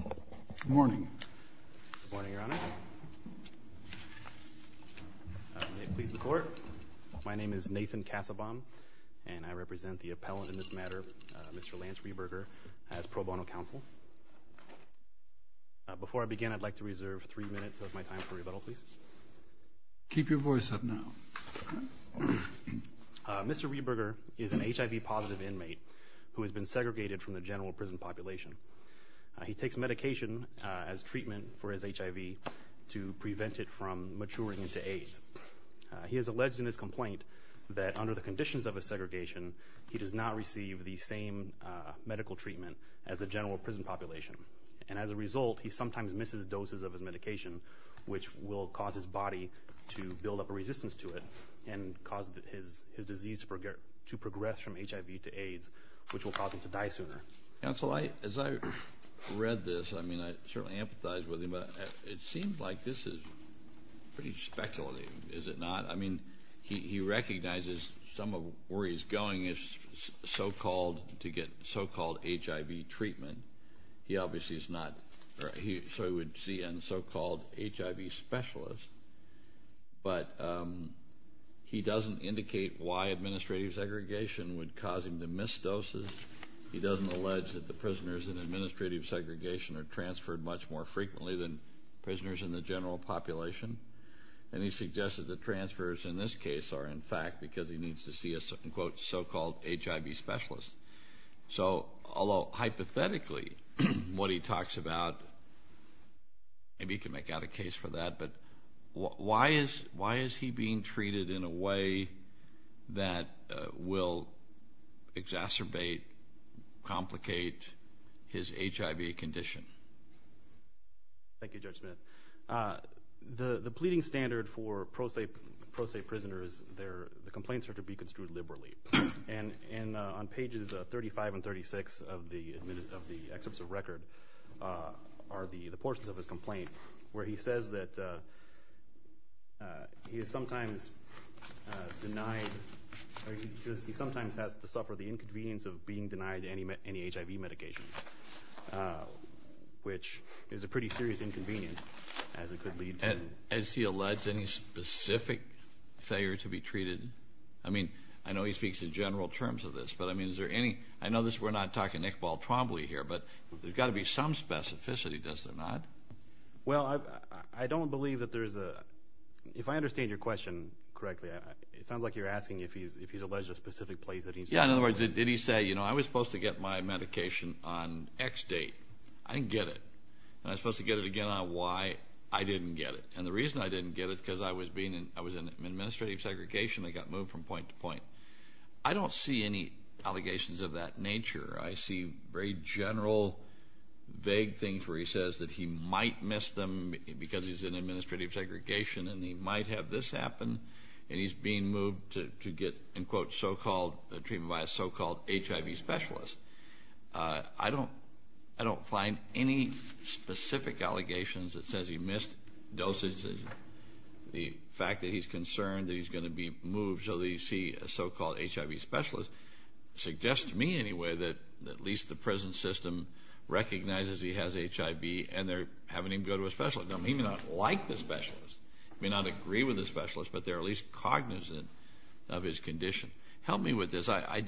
Good morning. Good morning, Your Honor. May it please the Court, my name is Nathan Cassabon and I represent the appellant in this matter, Mr. Lance Reberger, as pro bono counsel. Before I begin, I'd like to reserve three minutes of my time for rebuttal, please. Keep your voice up now. Mr. Reberger is an HIV-positive inmate who has been segregated from the general prison population. He takes medication as treatment for his HIV to prevent it from maturing into AIDS. He has alleged in his complaint that under the conditions of his segregation he does not receive the same medical treatment as the general prison population. And as a result, he sometimes misses doses of his medication which will cause his body to build up a resistance to it and cause his disease to progress from HIV to AIDS, which will cause him to die sooner. Counsel, as I read this, I mean, I certainly empathize with him, but it seems like this is pretty speculative, is it not? I mean, he recognizes some of where he's going is so-called to get so-called HIV treatment. He obviously is not. So he would see a so-called HIV specialist. But he doesn't indicate why administrative segregation would cause him to miss doses. He doesn't allege that the prisoners in administrative segregation are transferred much more frequently than prisoners in the general population. And he suggests that the transfers in this case are in fact because he needs to see a so-called HIV specialist. So although hypothetically what he talks about, maybe he can make out a case for that, but why is he being treated in a way that will exacerbate, complicate his HIV condition? Thank you, Judge Smith. The pleading standard for pro se prisoners, the complaints are to be construed liberally. And on pages 35 and 36 of the excerpts of record are the portions of his complaint where he says that he is sometimes denied or he sometimes has to suffer the inconvenience of being denied any HIV medication, which is a pretty serious inconvenience as it could lead to... As he alleges, any specific failure to be treated? I mean, I know he speaks in general terms of this, but I mean, is there any... I know we're not talking Nick Baltromboli here, but there's got to be some specificity, does there not? Well, I don't believe that there's a... If I understand your question correctly, it sounds like you're asking if he's alleged a specific place that he's... Yeah, in other words, did he say, you know, I was supposed to get my medication on X date. I didn't get it. Am I supposed to get it again on Y? I didn't get it. And the reason I didn't get it is because I was in administrative segregation. I got moved from point to point. I don't see any allegations of that nature. I see very general, vague things where he says that he might miss them because he's in administrative segregation and he might have this happen and he's being moved to get, in quote, so-called treatment by a so-called HIV specialist. I don't find any specific allegations that says he missed doses. The fact that he's concerned that he's going to be moved so that he sees a so-called HIV specialist suggests to me anyway that at least the present system recognizes he has HIV and they're having him go to a specialist. He may not like the specialist. He may not agree with the specialist, but they're at least cognizant of his condition. Help me with this. I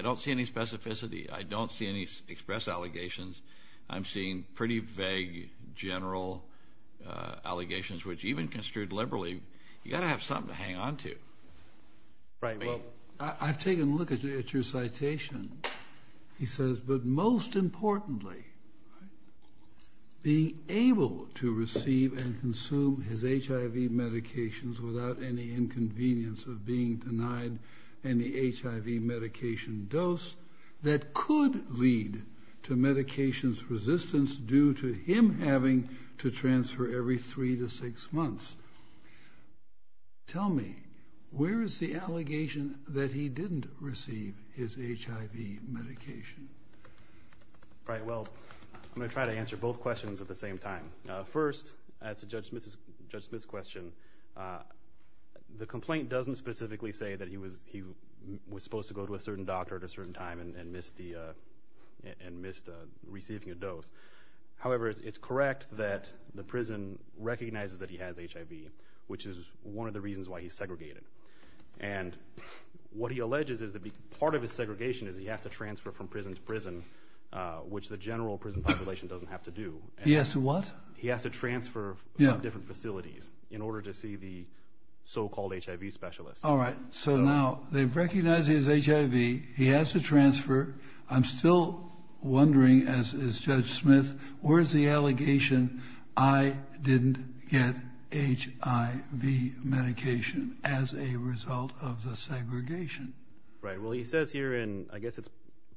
don't see any specificity. I don't see any express allegations. I'm seeing pretty vague, general allegations, which even construed liberally, you've got to have something to hang on to. I've taken a look at your citation. He says, but most importantly, being able to receive and consume his HIV medications without any inconvenience of being denied any HIV medication dose that could lead to medications resistance due to him having to transfer every three to six months. Tell me, where is the allegation that he didn't receive his HIV medication? Right, well, I'm going to try to answer both questions at the same time. First, as to Judge Smith's question, the complaint doesn't specifically say that he was supposed to go to a certain doctor at a certain time and missed receiving a dose. However, it's correct that the prison recognizes that he has HIV, which is one of the reasons why he's segregated. And what he alleges is that part of his segregation is he has to transfer from prison to prison, which the general prison population doesn't have to do. He has to what? He has to transfer from different facilities in order to see the so-called HIV specialist. All right, so now they recognize he has HIV. He has to transfer. However, I'm still wondering, as is Judge Smith, where is the allegation I didn't get HIV medication as a result of the segregation? Right, well, he says here, and I guess it's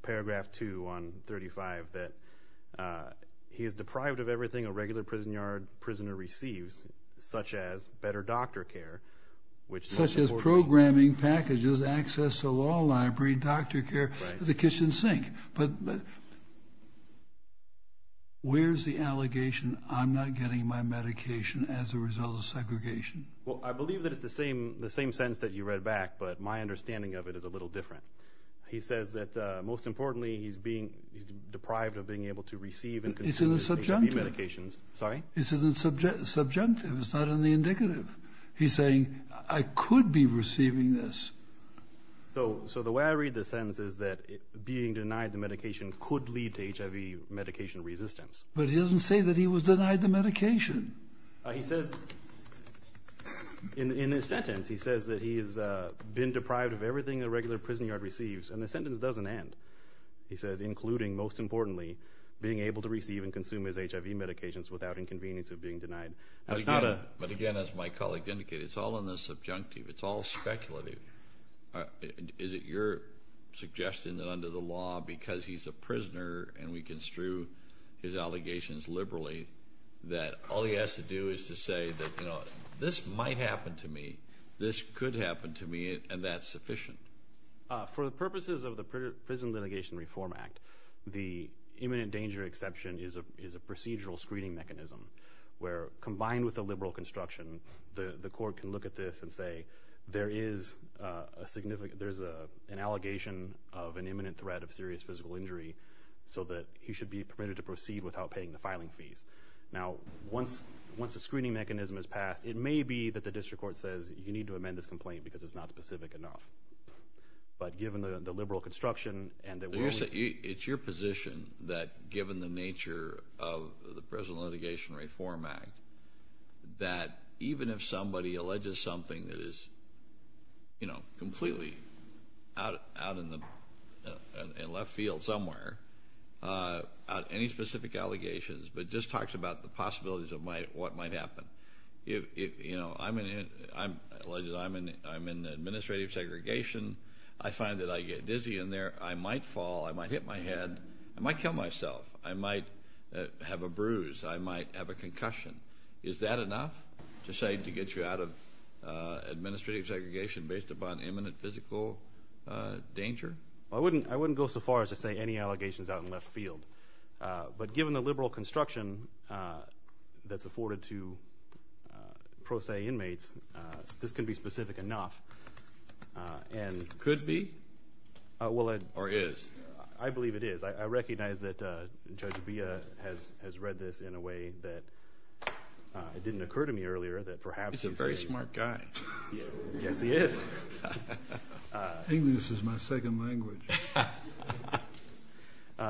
paragraph 2 on 35, that he is deprived of everything a regular prison yard prisoner receives, such as better doctor care. Such as programming, packages, access to a law library, doctor care. The kitchen sink. But where's the allegation I'm not getting my medication as a result of segregation? Well, I believe that it's the same sentence that you read back, but my understanding of it is a little different. He says that, most importantly, he's deprived of being able to receive and consume HIV medications. It's in the subjunctive. Sorry? It's in the subjunctive. It's not in the indicative. He's saying, I could be receiving this. So the way I read the sentence is that being denied the medication could lead to HIV medication resistance. But he doesn't say that he was denied the medication. He says, in his sentence, he says that he has been deprived of everything a regular prison yard receives. And the sentence doesn't end. He says, including, most importantly, being able to receive and consume his HIV medications without inconvenience of being denied. But, again, as my colleague indicated, it's all in the subjunctive. It's all speculative. Is it your suggestion that under the law, because he's a prisoner and we construe his allegations liberally, that all he has to do is to say that, you know, this might happen to me, this could happen to me, and that's sufficient? For the purposes of the Prison Litigation Reform Act, the imminent danger exception is a procedural screening mechanism where, combined with the liberal construction, the court can look at this and say, there is an allegation of an imminent threat of serious physical injury so that he should be permitted to proceed without paying the filing fees. Now, once the screening mechanism is passed, it may be that the district court says, you need to amend this complaint because it's not specific enough. But given the liberal construction and that we're— It's your position that, given the nature of the Prison Litigation Reform Act, that even if somebody alleges something that is, you know, completely out in the left field somewhere, any specific allegations, but just talks about the possibilities of what might happen. You know, I'm in—alleged I'm in administrative segregation. I find that I get dizzy in there. I might fall. I might hit my head. I might kill myself. I might have a bruise. I might have a concussion. Is that enough to say to get you out of administrative segregation based upon imminent physical danger? I wouldn't go so far as to say any allegations out in the left field. But given the liberal construction that's afforded to pro se inmates, this can be specific enough. Could be? Or is? I believe it is. I recognize that Judge Beah has read this in a way that it didn't occur to me earlier that perhaps— He's a very smart guy. Yes, he is. English is my second language.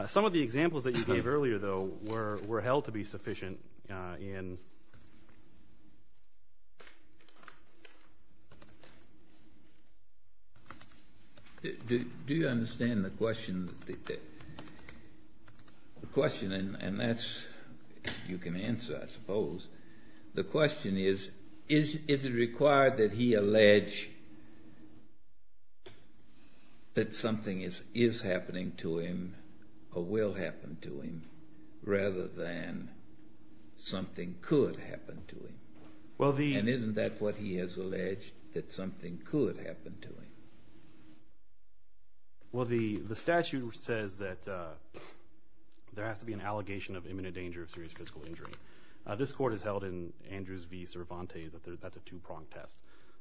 Some of the examples that you gave earlier, though, were held to be sufficient in— Do you understand the question? The question, and that's—you can answer, I suppose. The question is, is it required that he allege that something is happening to him or will happen to him rather than something could happen to him? And isn't that what he has alleged, that something could happen to him? Well, the statute says that there has to be an allegation of imminent danger of serious physical injury. This court has held in Andrews v. Cervantes that that's a two-pronged test.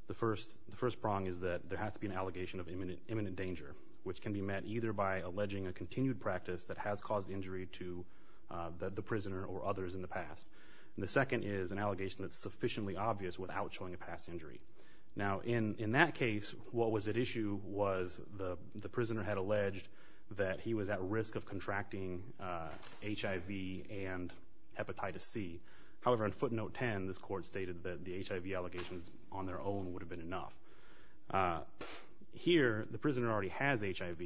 The first prong is that there has to be an allegation of imminent danger, which can be met either by alleging a continued practice that has caused injury to the prisoner or others in the past. And the second is an allegation that's sufficiently obvious without showing a past injury. Now, in that case, what was at issue was the prisoner had alleged that he was at risk of contracting HIV and hepatitis C. However, in footnote 10, this court stated that the HIV allegations on their own would have been enough. Here, the prisoner already has HIV,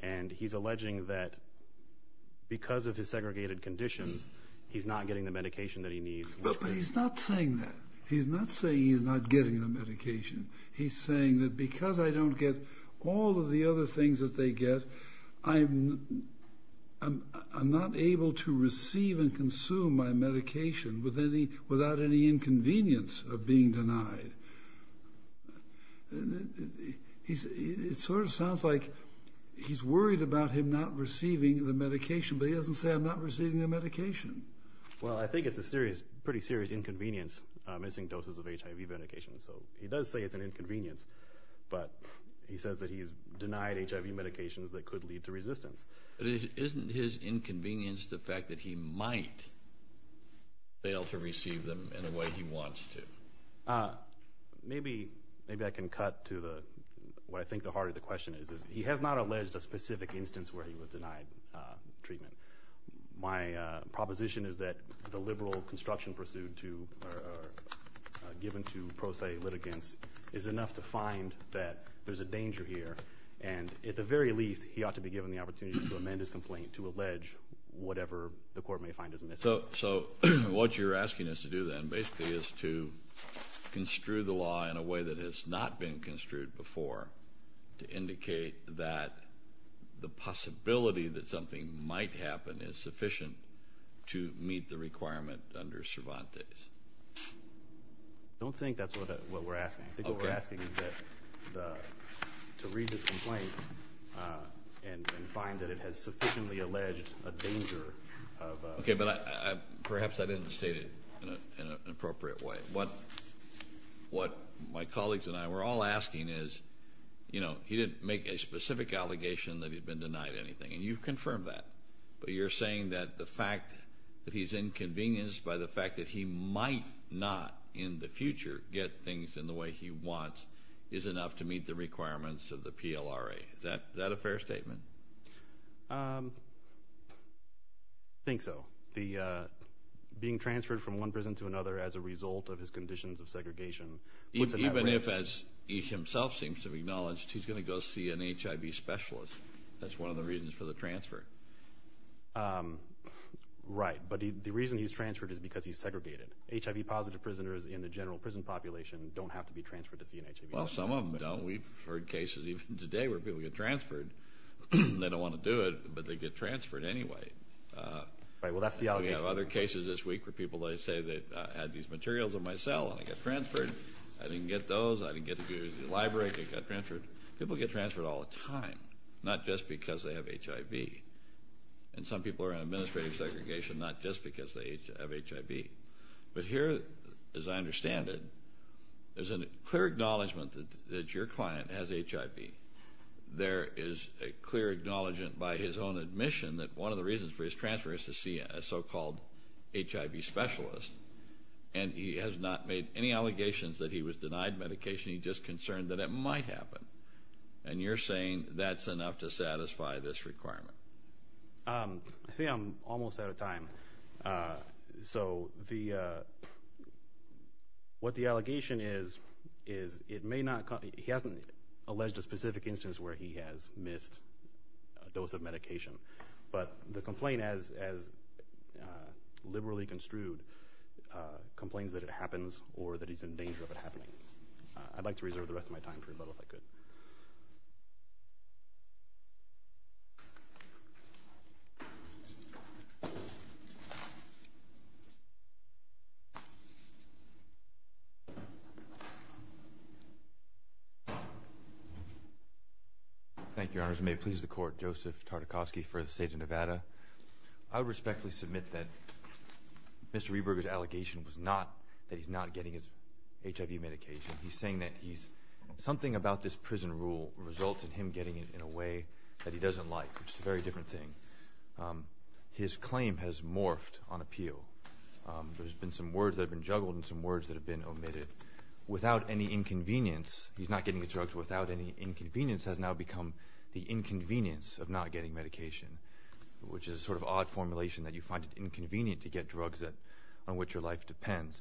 and he's alleging that because of his segregated conditions, he's not getting the medication that he needs. But he's not saying that. He's not saying he's not getting the medication. He's saying that because I don't get all of the other things that they get, I'm not able to receive and consume my medication without any inconvenience of being denied. It sort of sounds like he's worried about him not receiving the medication, but he doesn't say, I'm not receiving the medication. Well, I think it's a pretty serious inconvenience, missing doses of HIV medication. So he does say it's an inconvenience, but he says that he's denied HIV medications that could lead to resistance. But isn't his inconvenience the fact that he might fail to receive them in a way he wants to? Maybe I can cut to what I think the heart of the question is. He has not alleged a specific instance where he was denied treatment. My proposition is that the liberal construction pursued or given to pro se litigants is enough to find that there's a danger here, and at the very least he ought to be given the opportunity to amend his complaint to allege whatever the court may find is missing. So what you're asking us to do then basically is to construe the law in a way that has not been construed before to indicate that the possibility that something might happen is sufficient to meet the requirement under Cervantes. I don't think that's what we're asking. I think what we're asking is to read his complaint and find that it has sufficiently alleged a danger of... Okay, but perhaps I didn't state it in an appropriate way. What my colleagues and I were all asking is, he didn't make a specific allegation that he'd been denied anything, and you've confirmed that, but you're saying that the fact that he's inconvenienced by the fact that he might not in the future get things in the way he wants is enough to meet the requirements of the PLRA. Is that a fair statement? I think so. Being transferred from one prison to another as a result of his conditions of segregation... Even if, as he himself seems to have acknowledged, he's going to go see an HIV specialist. That's one of the reasons for the transfer. Right, but the reason he's transferred is because he's segregated. HIV-positive prisoners in the general prison population don't have to be transferred to see an HIV specialist. Well, some of them don't. We've heard cases even today where people get transferred. They don't want to do it, but they get transferred anyway. Right, well, that's the allegation. We have other cases this week where people say that I had these materials in my cell and I got transferred. I didn't get those. I didn't get to use the library. I got transferred. People get transferred all the time, not just because they have HIV. And some people are in administrative segregation not just because they have HIV. But here, as I understand it, there's a clear acknowledgment that your client has HIV. There is a clear acknowledgment by his own admission that one of the reasons for his transfer is to see a so-called HIV specialist. And he has not made any allegations that he was denied medication. He's just concerned that it might happen. And you're saying that's enough to satisfy this requirement. I see I'm almost out of time. So what the allegation is, he hasn't alleged a specific instance where he has missed a dose of medication. But the complaint, as liberally construed, complains that it happens or that he's in danger of it happening. I'd like to reserve the rest of my time for rebuttal if I could. Thank you, Your Honors. And may it please the Court, Joseph Tartakosky for the State of Nevada. I would respectfully submit that Mr. Eberger's allegation was not that he's not getting his HIV medication. He's saying that something about this prison rule results in him getting it in a way that he doesn't like, which is a very different thing. His claim has morphed on appeal. There's been some words that have been juggled and some words that have been omitted. He's not getting his drugs without any inconvenience has now become the inconvenience of not getting medication, which is a sort of odd formulation that you find it inconvenient to get drugs on which your life depends.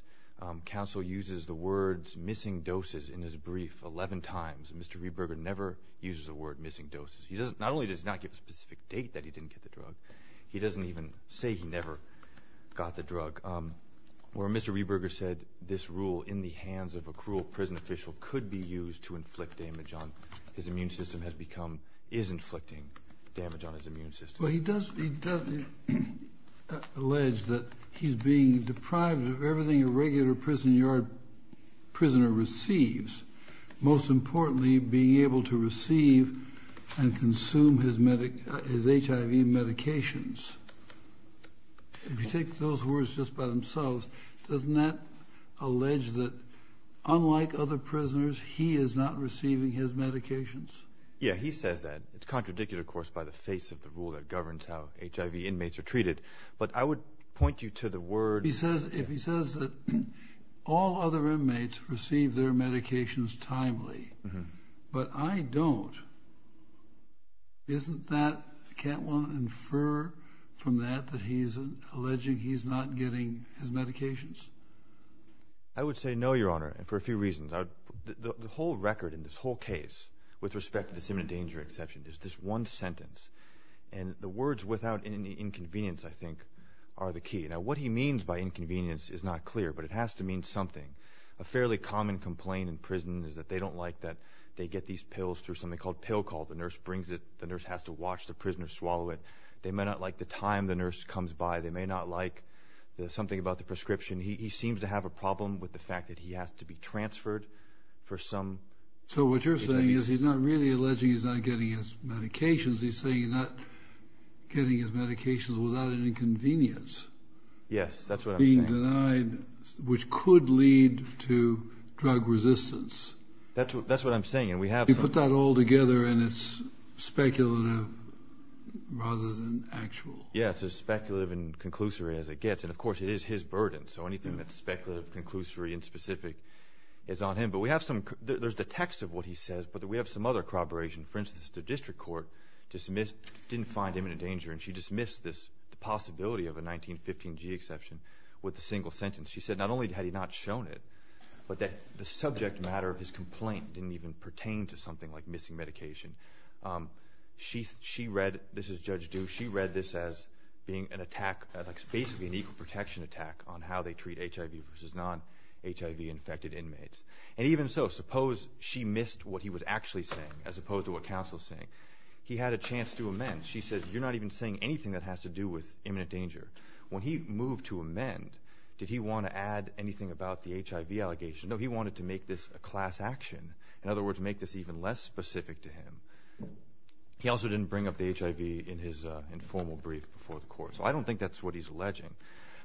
Counsel uses the words missing doses in his brief 11 times. Mr. Eberger never uses the word missing doses. Not only does he not give a specific date that he didn't get the drug, he doesn't even say he never got the drug. Where Mr. Eberger said this rule in the hands of a cruel prison official could be used to inflict damage on his immune system has become is inflicting damage on his immune system. Well, he does allege that he's being deprived of everything a regular prison yard prisoner receives, most importantly being able to receive and consume his HIV medications. If you take those words just by themselves, doesn't that allege that unlike other prisoners, he is not receiving his medications? Yeah, he says that. It's contradicted, of course, by the face of the rule that governs how HIV inmates are treated, but I would point you to the word... If he says that all other inmates receive their medications timely, but I don't, isn't that, can't one infer from that that he's alleging he's not getting his medications? I would say no, Your Honor, for a few reasons. The whole record in this whole case with respect to this imminent danger exception is this one sentence, and the words without any inconvenience, I think, are the key. Now, what he means by inconvenience is not clear, but it has to mean something. A fairly common complaint in prison is that they don't like that they get these pills through something called pill call. The nurse brings it. The nurse has to watch the prisoner swallow it. They may not like the time the nurse comes by. They may not like something about the prescription. He seems to have a problem with the fact that he has to be transferred for some... So what you're saying is he's not really alleging he's not getting his medications. He's saying he's not getting his medications without an inconvenience... Yes, that's what I'm saying. ...being denied, which could lead to drug resistance. That's what I'm saying, and we have some... You put that all together, and it's speculative rather than actual. Yes, as speculative and conclusory as it gets. And, of course, it is his burden, so anything that's speculative, conclusory, and specific is on him. But we have some... There's the text of what he says, but we have some other corroboration. For instance, the district court didn't find imminent danger, and she dismissed this possibility of a 1915G exception with a single sentence. She said not only had he not shown it, but that the subject matter of his complaint didn't even pertain to something like missing medication. She read, this is Judge Dew, she read this as being an attack, basically an equal protection attack, on how they treat HIV versus non-HIV-infected inmates. And even so, suppose she missed what he was actually saying, as opposed to what counsel is saying. He had a chance to amend. She says, you're not even saying anything that has to do with imminent danger. When he moved to amend, did he want to add anything about the HIV allegation? No, he wanted to make this a class action. In other words, make this even less specific to him. He also didn't bring up the HIV in his informal brief before the court. So I don't think that's what he's alleging.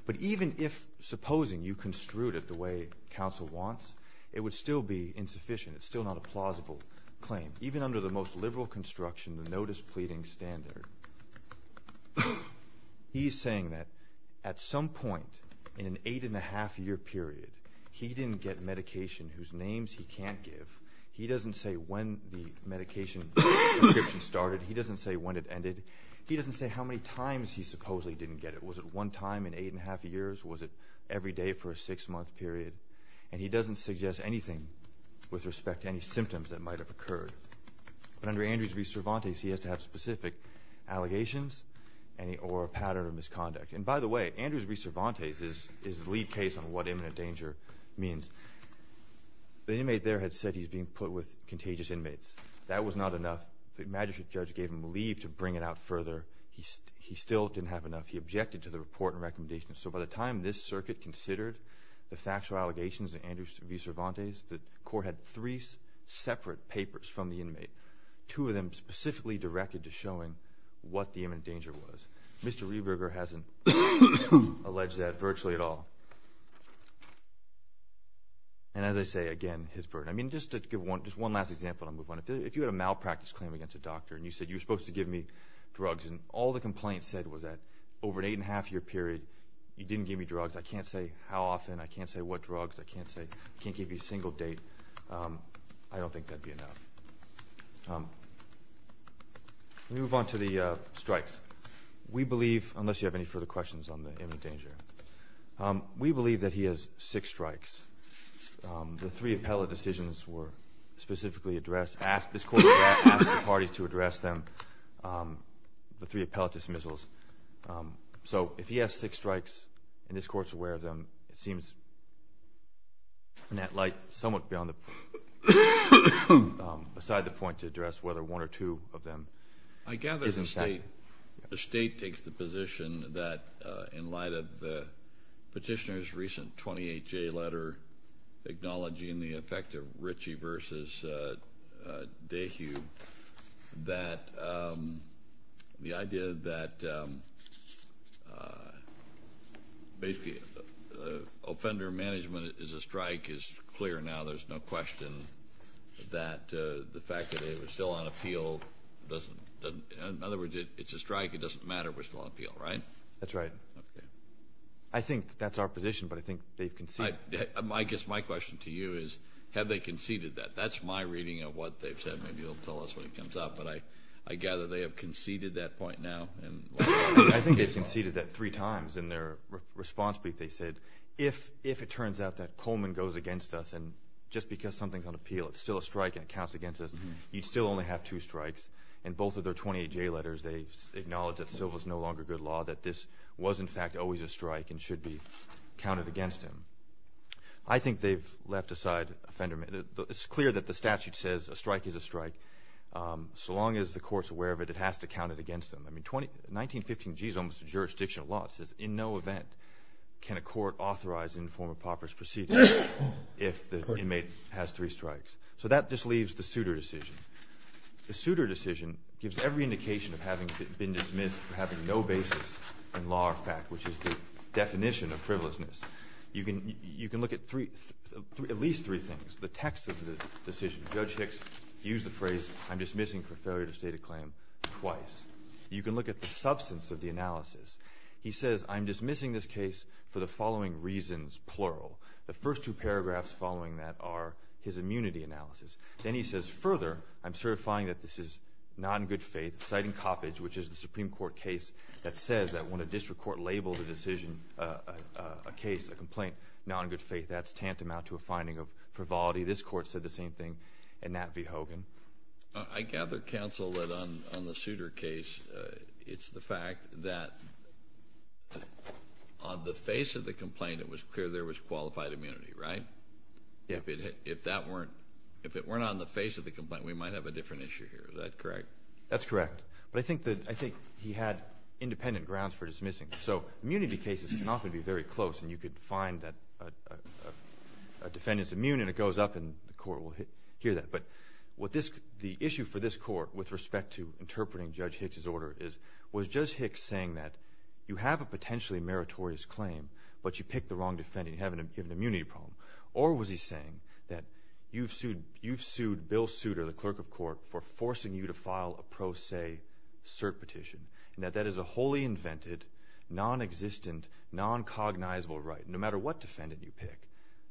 But even if, supposing, you construed it the way counsel wants, it would still be insufficient. It's still not a plausible claim. Even under the most liberal construction, the no-displeading standard, he's saying that at some point in an eight-and-a-half-year period, he didn't get medication whose names he can't give. He doesn't say when the medication prescription started. He doesn't say when it ended. He doesn't say how many times he supposedly didn't get it. Was it one time in eight-and-a-half years? Was it every day for a six-month period? And he doesn't suggest anything with respect to any symptoms that might have occurred. But under Andrews v. Cervantes, he has to have specific allegations or a pattern of misconduct. And by the way, Andrews v. Cervantes is the lead case on what imminent danger means. The inmate there had said he was being put with contagious inmates. That was not enough. The magistrate judge gave him leave to bring it out further. He objected to the report and recommendations. So by the time this circuit considered the factual allegations of Andrews v. Cervantes, the court had three separate papers from the inmate, two of them specifically directed to showing what the imminent danger was. Mr. Rehberger hasn't alleged that virtually at all. And as I say, again, his burden. I mean, just to give one last example and I'll move on. If you had a malpractice claim against a doctor and you said you were supposed to give me drugs and all the complaints said was that over an eight-and-a-half-year period, you didn't give me drugs, I can't say how often, I can't say what drugs, I can't give you a single date, I don't think that would be enough. Let me move on to the strikes. We believe, unless you have any further questions on the imminent danger, we believe that he has six strikes. The three appellate decisions were specifically addressed. This Court has asked the parties to address them, the three appellate dismissals. So if he has six strikes and this Court is aware of them, it seems in that light somewhat beyond the point to address whether one or two of them is in fact. I gather the State takes the position that in light of the petitioner's recent 28-J letter, acknowledging the effect of Ritchie v. Dehue, that the idea that basically offender management is a strike is clear now. There's no question that the fact that they were still on appeal doesn't, in other words, it's a strike, it doesn't matter if we're still on appeal, right? That's right. I think that's our position, but I think they've conceded. I guess my question to you is have they conceded that? That's my reading of what they've said. Maybe you'll tell us when it comes up, but I gather they have conceded that point now. I think they've conceded that three times. In their response brief they said, if it turns out that Coleman goes against us and just because something's on appeal, it's still a strike and it counts against us, you'd still only have two strikes. In both of their 28-J letters they acknowledge that civil is no longer good law, that this was, in fact, always a strike and should be counted against him. I think they've left aside offender management. It's clear that the statute says a strike is a strike. So long as the court's aware of it, it has to count it against them. I mean, 1915g is almost a jurisdictional law. It says in no event can a court authorize an informer pauper's proceeding if the inmate has three strikes. So that just leaves the suitor decision. The suitor decision gives every indication of having been dismissed for having no basis in law or fact, which is the definition of frivolousness. You can look at at least three things. The text of the decision, Judge Hicks used the phrase, I'm dismissing for failure to state a claim twice. You can look at the substance of the analysis. He says, I'm dismissing this case for the following reasons, plural. The first two paragraphs following that are his immunity analysis. Then he says, further, I'm certifying that this is not in good faith, citing Coppedge, which is the Supreme Court case, that says that when a district court labels a decision, a case, a complaint, not in good faith, that's tantamount to a finding of frivolity. This court said the same thing, and Nat V. Hogan. I gather, counsel, that on the suitor case, it's the fact that on the face of the complaint, it was clear there was qualified immunity, right? If it weren't on the face of the complaint, we might have a different issue here. Is that correct? That's correct. But I think he had independent grounds for dismissing. So immunity cases can often be very close, and you could find that a defendant's immune, and it goes up, and the court will hear that. But the issue for this court with respect to interpreting Judge Hicks' order was Judge Hicks saying that you have a potentially meritorious claim, but you picked the wrong defendant. You have an immunity problem. Or was he saying that you've sued Bill Souter, the clerk of court, for forcing you to file a pro se cert petition, and that that is a wholly invented, non-existent, non-cognizable right, no matter what defendant you pick.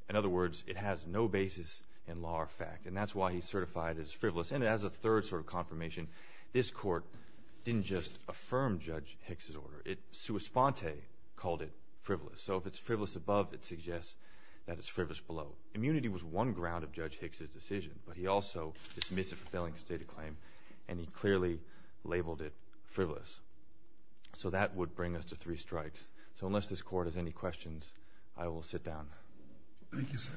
In other words, it has no basis in law or fact, and that's why he certified it as frivolous. And as a third sort of confirmation, this court didn't just affirm Judge Hicks' order. It sua sponte called it frivolous. So if it's frivolous above, it suggests that it's frivolous below. Immunity was one ground of Judge Hicks' decision, but he also dismissed it for failing to state a claim, and he clearly labeled it frivolous. So that would bring us to three strikes. So unless this court has any questions, I will sit down. Thank you, sir.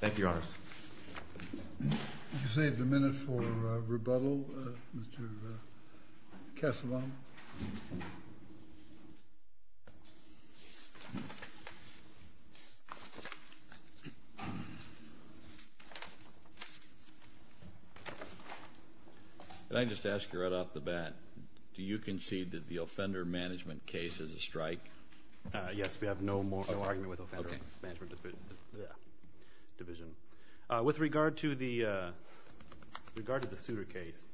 Thank you, Your Honors. You saved a minute for rebuttal, Mr. Kesselman. Can I just ask you right off the bat, do you concede that the offender management case is a strike? Yes, we have no argument with offender management division. With regard to the suitor case,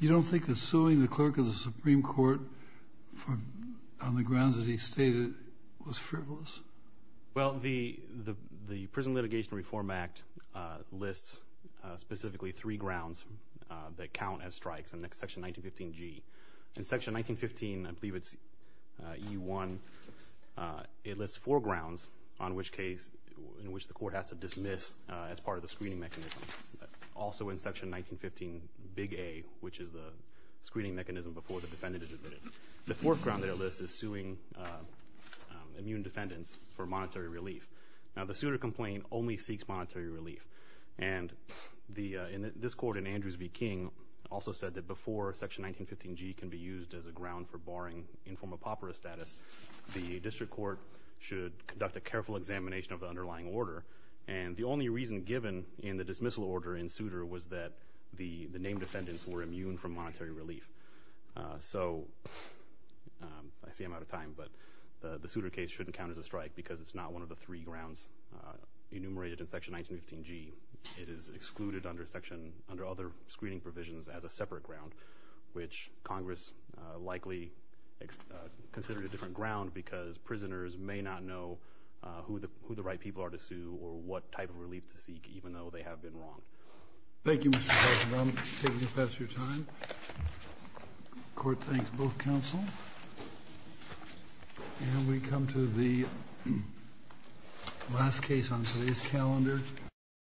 you don't think that suing the clerk of the Supreme Court on the grounds that he stated was frivolous? Well, the Prison Litigation Reform Act lists specifically three grounds that count as strikes in Section 1915G. In Section 1915, I believe it's EU1, it lists four grounds on which case in which the court has to dismiss as part of the screening mechanism. Also in Section 1915, Big A, which is the screening mechanism before the defendant is admitted. The fourth ground that it lists is suing immune defendants for monetary relief. Now, the suitor complaint only seeks monetary relief. And this court in Andrews v. King also said that before Section 1915G can be used as a ground for barring informed apopera status, the district court should conduct a careful examination of the underlying order. And the only reason given in the dismissal order in suitor was that the named defendants were immune from monetary relief. So I see I'm out of time, but the suitor case shouldn't count as a strike because it's not one of the three grounds enumerated in Section 1915G. It is excluded under other screening provisions as a separate ground, which Congress likely considered a different ground because prisoners may not know who the right people are to sue or what type of relief to seek, even though they have been wronged. Thank you, Mr. President. I'm taking it past your time. The Court thanks both counsel. And we come to the last case on today's calendar.